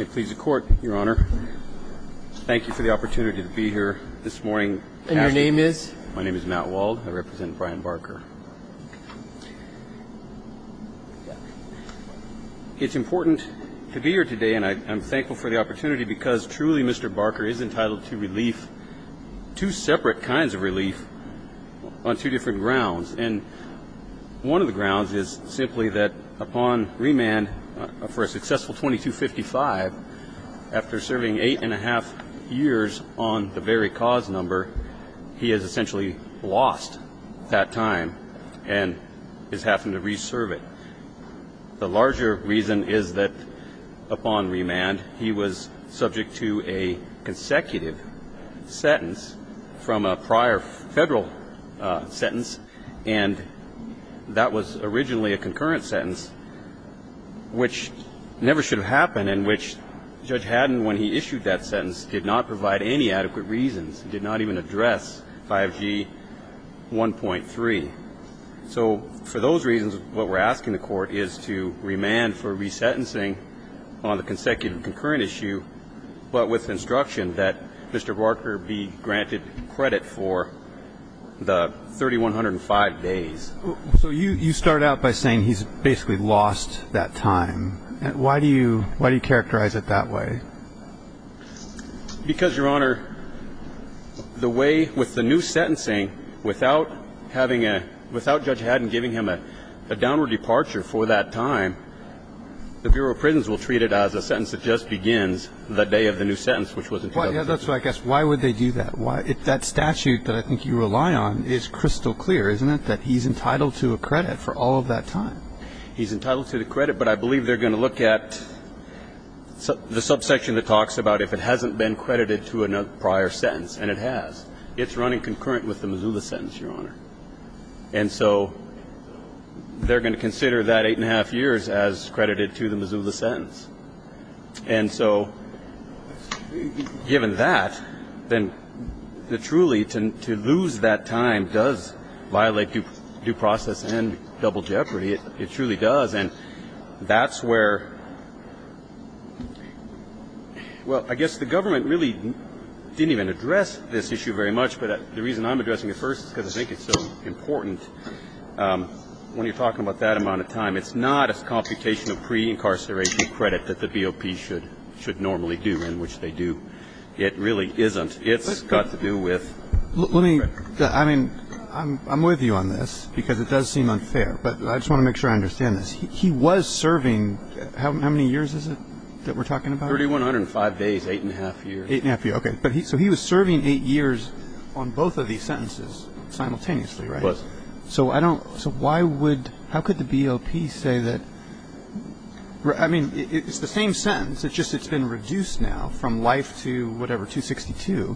It pleads the court your honor Thank you for the opportunity to be here this morning and your name is my name is Matt Wald. I represent Brian Barker It's important to be here today, and I'm thankful for the opportunity because truly mr. Barker is entitled to relief two separate kinds of relief on two different grounds and One of the grounds is simply that upon remand for a successful 2255 After serving eight and a half years on the very cause number He has essentially lost that time and is having to reserve it the larger reason is that upon remand he was subject to a consecutive sentence from a prior federal Sentence and That was originally a concurrent sentence Which never should have happened in which? Judge Haddon when he issued that sentence did not provide any adequate reasons did not even address 5g 1.3 So for those reasons what we're asking the court is to remand for resentencing on the consecutive concurrent issue But with instruction that mr. Barker be granted credit for 3105 days So you you start out by saying he's basically lost that time and why do you why do you characterize it that way? Because your honor the way with the new sentencing without having a without judge Haddon giving him a downward departure for that time The Bureau of Prisons will treat it as a sentence that just begins the day of the new sentence, which wasn't quite Yeah, that's what I guess Why would they do that? Why if that statute that I think you rely on is crystal clear Isn't it that he's entitled to a credit for all of that time? He's entitled to the credit, but I believe they're going to look at So the subsection that talks about if it hasn't been credited to another prior sentence and it has it's running concurrent with the Missoula sentence your honor and so They're going to consider that eight and a half years as credited to the Missoula sentence. And so Given that then the truly to lose that time does violate you due process and double jeopardy it it truly does and that's where Well, I guess the government really Didn't even address this issue very much. But the reason I'm addressing at first is because I think it's so important When you're talking about that amount of time, it's not as computation of pre-incarceration Credit that the BOP should should normally do in which they do. It really isn't it's got to do with Let me I mean, I'm with you on this because it does seem unfair But I just want to make sure I understand this he was serving How many years is it that we're talking about 3,105 days eight and a half years eight and a half years Okay, but he so he was serving eight years on both of these sentences Simultaneously, right? So I don't so why would how could the BOP say that? Right, I mean, it's the same sentence. It's just it's been reduced now from life to whatever 262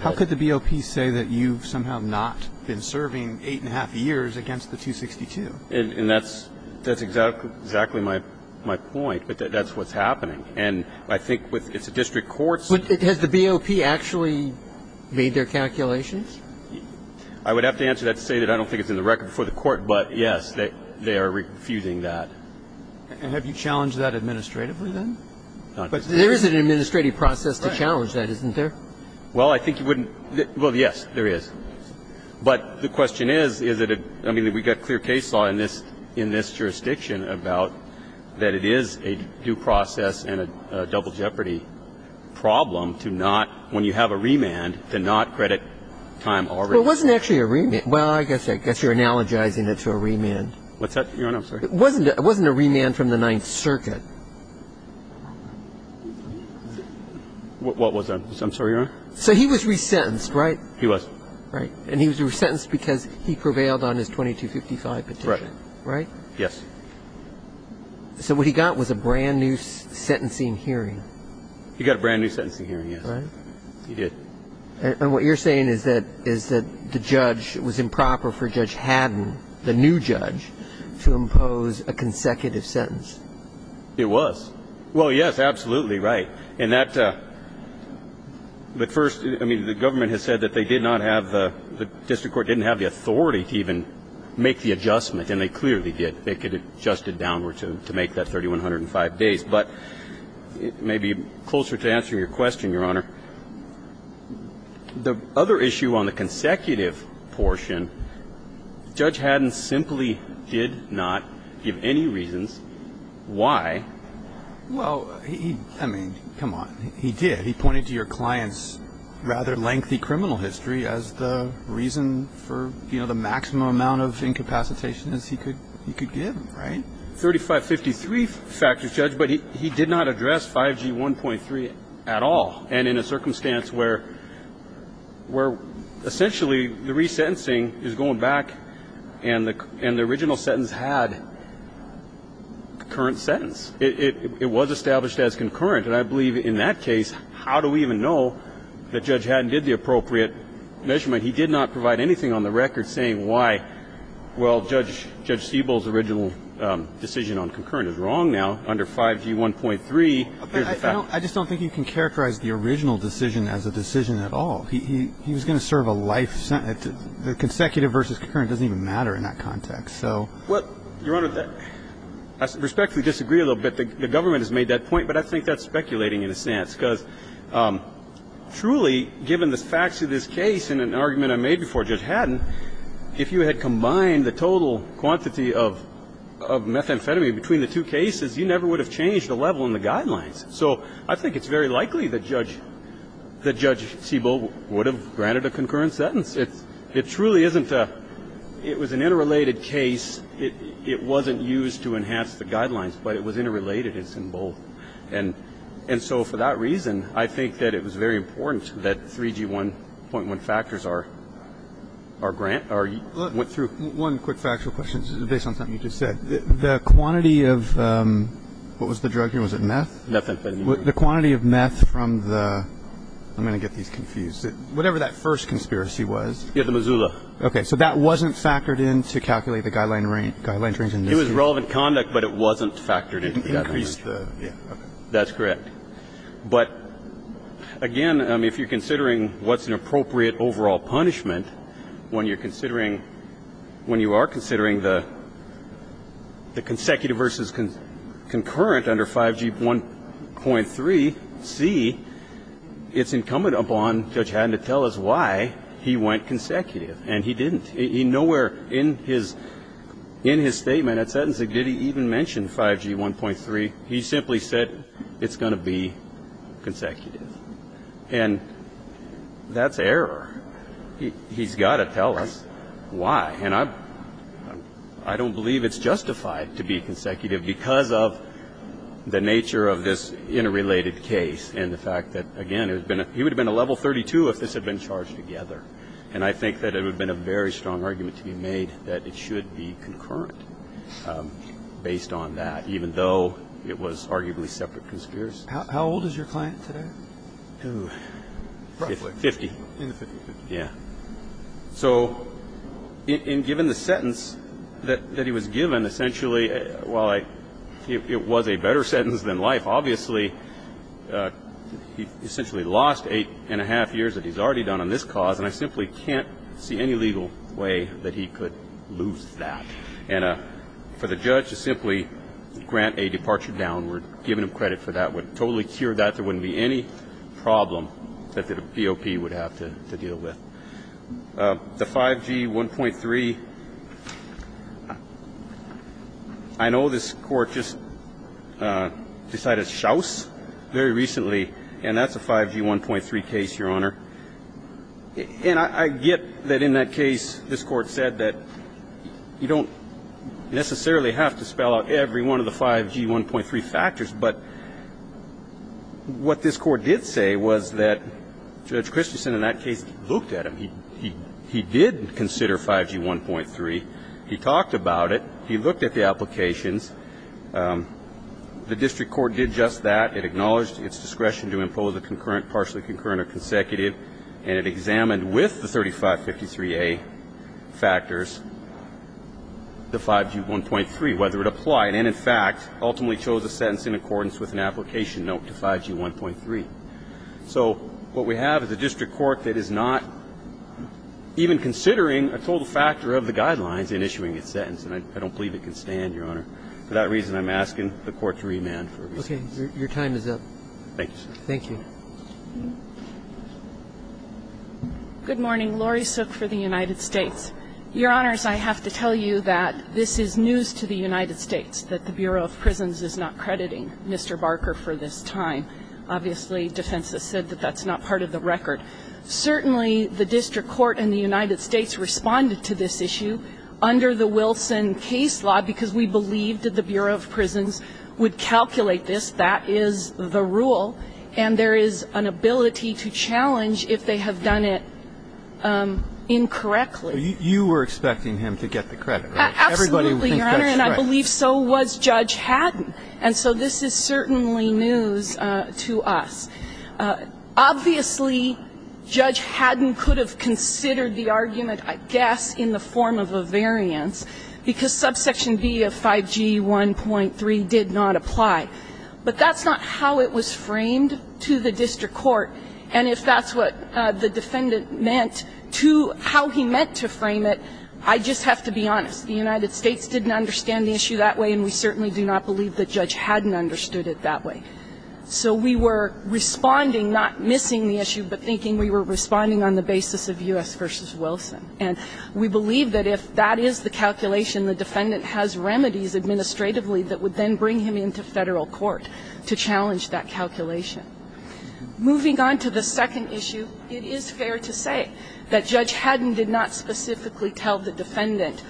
How could the BOP say that you've somehow not been serving eight and a half years against the 262 and that's that's exactly Exactly my my point, but that's what's happening. And I think with it's a district courts, but it has the BOP actually made their calculations I Would have to answer that to say that I don't think it's in the record before the court But yes that they are refusing that And have you challenged that administratively then but there is an administrative process to challenge that isn't there well I think you wouldn't well, yes there is But the question is is it a I mean that we got clear case law in this in this jurisdiction about That it is a due process and a double jeopardy Problem to not when you have a remand to not credit time or it wasn't actually a remit Well, I guess I guess you're analogizing it to a remand. What's that? Wasn't it wasn't a remand from the Ninth Circuit What was that I'm sorry, so he was resentenced right he was right and he was resentenced because he prevailed on his 2255 petition right? Yes So what he got was a brand new sentencing hearing he got a brand new sentencing hearing. Yes, right He did and what you're saying is that is that the judge was improper for Judge Haddon the new judge To impose a consecutive sentence. It was well, yes, absolutely, right and that But first I mean the government has said that they did not have the district court didn't have the authority to even Make the adjustment and they clearly did they could adjust it downward to make that 3,105 days, but It may be closer to answer your question your honor The other issue on the consecutive portion Judge Haddon simply did not give any reasons why Well, I mean, come on. He did he pointed to your clients rather lengthy criminal history as the reason for You know, the maximum amount of incapacitation is he could he could give right? 3553 factors judge, but he did not address 5g 1.3 at all and in a circumstance where Where essentially the resentencing is going back and the and the original sentence had Current sentence it was established as concurrent and I believe in that case How do we even know that judge Haddon did the appropriate measurement? He did not provide anything on the record saying why? Well judge judge Stiebel's original decision on concurrent is wrong now under 5g 1.3 I just don't think you can characterize the original decision as a decision at all He he was gonna serve a life sentence the consecutive versus current doesn't even matter in that context So what your honor that I respectfully disagree a little bit the government has made that point, but I think that's speculating in a sense because Truly given the facts of this case in an argument I made before judge Haddon if you had combined the total quantity of Methamphetamine between the two cases you never would have changed the level in the guidelines So I think it's very likely that judge The judge Siebel would have granted a concurrent sentence. It's it truly isn't that it was an interrelated case It it wasn't used to enhance the guidelines, but it was interrelated It's in both and and so for that reason, I think that it was very important that 3g 1.1 factors are Our grant are you went through one quick factual questions based on something you just said the quantity of What was the drug here? Was it meth? the quantity of meth from the I'm gonna get these confused it whatever that first conspiracy was. Yeah, the Missoula Okay, so that wasn't factored in to calculate the guideline range guidelines range and it was relevant conduct, but it wasn't factored in That's correct, but Again if you're considering what's an appropriate overall punishment when you're considering when you are considering the the consecutive versus concurrent under 5g 1.3 see It's incumbent upon judge hadn't to tell us why he went consecutive and he didn't he nowhere in his In his statement that sentence that did he even mention 5g 1.3. He simply said it's going to be consecutive and That's error he's got to tell us why and I I don't believe it's justified to be consecutive because of The nature of this interrelated case and the fact that again It's been a he would have been a level 32 if this had been charged together And I think that it would been a very strong argument to be made that it should be concurrent Based on that even though it was arguably separate conspiracy, how old is your client today? 50 yeah so In given the sentence that that he was given essentially while I it was a better sentence than life obviously He essentially lost eight and a half years that he's already done on this cause and I simply can't see any legal way that he could lose that and For the judge to simply grant a departure down. We're giving him credit for that would totally cure that there wouldn't be any Problem that the POP would have to deal with the 5g 1.3 I Know this court just Decided shouse very recently and that's a 5g 1.3 case your honor And I get that in that case this court said that you don't necessarily have to spell out every one of the 5g 1.3 factors, but What this court did say was that Judge Christensen in that case looked at him. He he did consider 5g 1.3. He talked about it He looked at the applications The district court did just that it acknowledged its discretion to impose a concurrent partially concurrent or consecutive and it examined with the 3553 a factors The 5g 1.3 whether it applied and in fact ultimately chose a sentence in accordance with an application note to 5g 1.3 So what we have is a district court. That is not Even considering a total factor of the guidelines in issuing its sentence, and I don't believe it can stand your honor That reason I'm asking the court to remand. Okay, your time is up. Thank you. Thank you Good morning, Laurie Sook for the United States your honors I have to tell you that this is news to the United States that the Bureau of Prisons is not crediting. Mr Barker for this time obviously defense has said that that's not part of the record Certainly the district court in the United States responded to this issue Under the Wilson case law because we believed that the Bureau of Prisons would calculate this that is the rule and There is an ability to challenge if they have done it Incorrectly you were expecting him to get the credit Believe so was judge Haddon. And so this is certainly news to us Obviously Judge Haddon could have considered the argument I guess in the form of a variance Because subsection B of 5g 1.3 did not apply But that's not how it was framed to the district court And if that's what the defendant meant to how he meant to frame it I just have to be honest the United States didn't understand the issue that way and we certainly do not believe that judge hadn't Understood it that way So we were responding not missing the issue But thinking we were responding on the basis of u.s Versus Wilson and we believe that if that is the calculation the defendant has remedies Administratively that would then bring him into federal court to challenge that calculation Moving on to the second issue. It is fair to say that judge Haddon did not specifically tell the defendant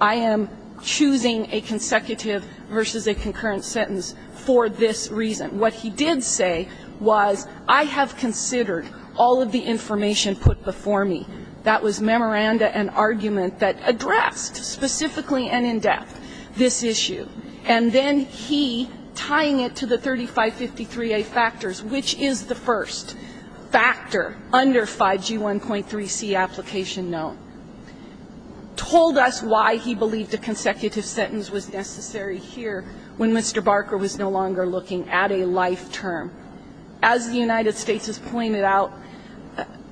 I am Choosing a consecutive versus a concurrent sentence for this reason what he did say was I have Considered all of the information put before me that was memoranda and argument that addressed Specifically and in-depth this issue and then he tying it to the 3553 a factors Which is the first? Factor under 5g 1.3 C application known Told us why he believed a consecutive sentence was necessary here when mr. Barker was no longer looking at a life term as the United States has pointed out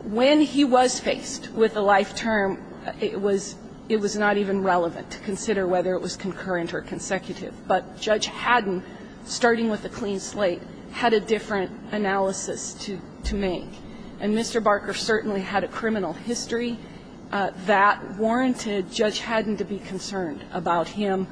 When he was faced with a life term It was it was not even relevant to consider whether it was concurrent or consecutive But judge Haddon starting with a clean slate had a different analysis to to make and mr Barker certainly had a criminal history That warranted judge Haddon to be concerned about him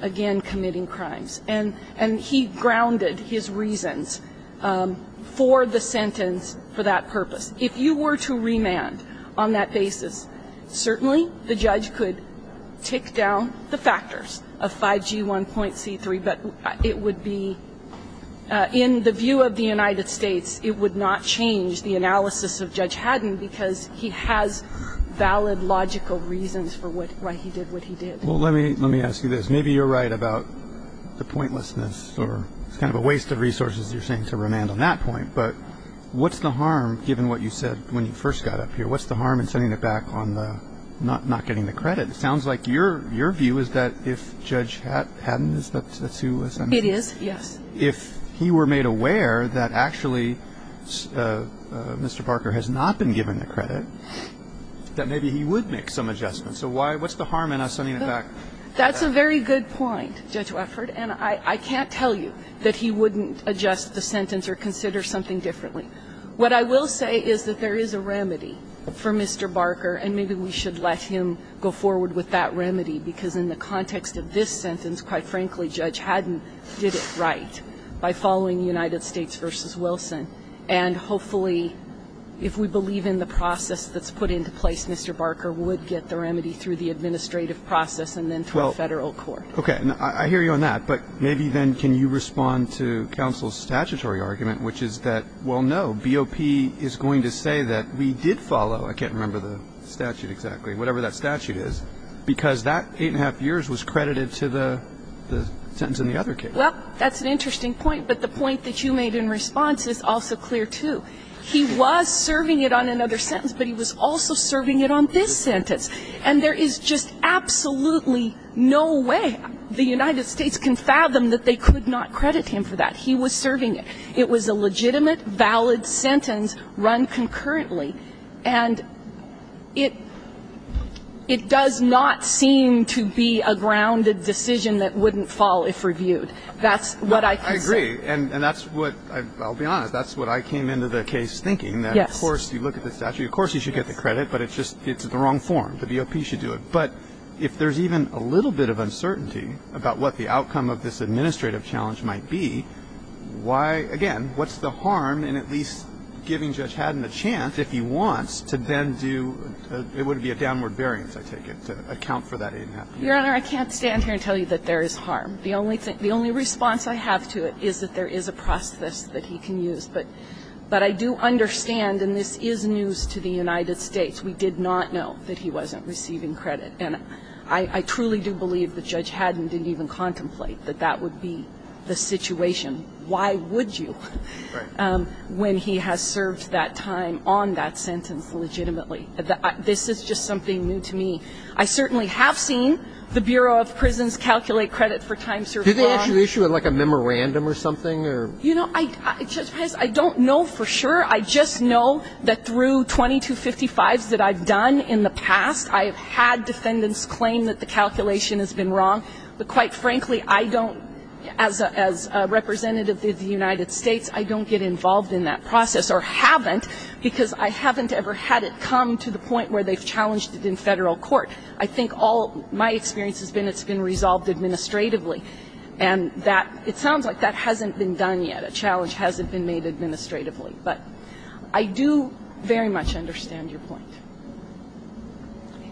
again committing crimes and and he grounded his reasons For the sentence for that purpose if you were to remand on that basis Certainly the judge could tick down the factors of 5g 1.c 3, but it would be in the view of the United States It would not change the analysis of judge Haddon because he has Valid logical reasons for what he did what he did. Well, let me let me ask you this. Maybe you're right about The pointlessness or it's kind of a waste of resources. You're saying to remand on that point But what's the harm given what you said when you first got up here? What's the harm in sending it back on the not not getting the credit? It sounds like your your view is that if judge had hadn't is that that's who was it is If he were made aware that actually Mr. Parker has not been given the credit That maybe he would make some adjustment. So why what's the harm in us sending it back? That's a very good point judge Wefford and I I can't tell you that he wouldn't adjust the sentence or consider something differently What I will say is that there is a remedy for mr Barker and maybe we should let him go forward with that remedy because in the context of this sentence quite frankly judge Haddon did it right by following the United States versus Wilson and Hopefully if we believe in the process that's put into place. Mr Barker would get the remedy through the administrative process and then 12 federal court Okay, I hear you on that, but maybe then can you respond to counsel's statutory argument? Which is that well, no BOP is going to say that we did follow I can't remember the statute exactly whatever that statute is because that eight and a half years was credited to the Sentence in the other case. Well, that's an interesting point But the point that you made in response is also clear to he was serving it on another sentence But he was also serving it on this sentence and there is just absolutely No way the United States can fathom that they could not credit him for that. He was serving it it was a legitimate valid sentence run concurrently and it It does not seem to be a grounded decision that wouldn't fall if reviewed That's what I agree. And and that's what I'll be honest. That's what I came into the case thinking Yes, of course, you look at the statute Of course, you should get the credit, but it's just it's the wrong form the BOP should do it But if there's even a little bit of uncertainty about what the outcome of this administrative challenge might be Why again, what's the harm and at least giving judge Haddon a chance if he wants to then do? It would be a downward variance. I take it to account for that. Your honor I can't stand here and tell you that there is harm the only thing the only response I have to it is that there is a process that he can use but But I do understand and this is news to the United States We did not know that he wasn't receiving credit and I I truly do believe the judge Haddon didn't even contemplate that that would be The situation why would you? When he has served that time on that sentence legitimately that this is just something new to me I certainly have seen the Bureau of Prisons calculate credit for time So do they issue it like a memorandum or something or you know, I just I don't know for sure I just know that through 2255 that I've done in the past I have had defendants claim that the calculation has been wrong But quite frankly, I don't as a representative of the United States I don't get involved in that process or haven't because I haven't ever had it come to the point where they've challenged it in federal court, I think all my experience has been it's been resolved administratively and That it sounds like that hasn't been done yet. A challenge hasn't been made administratively, but I do Very much understand your point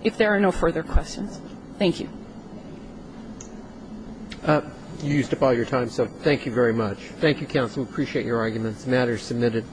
If there are no further questions, thank you Up used up all your time, so thank you very much. Thank you counsel. Appreciate your arguments matters submitted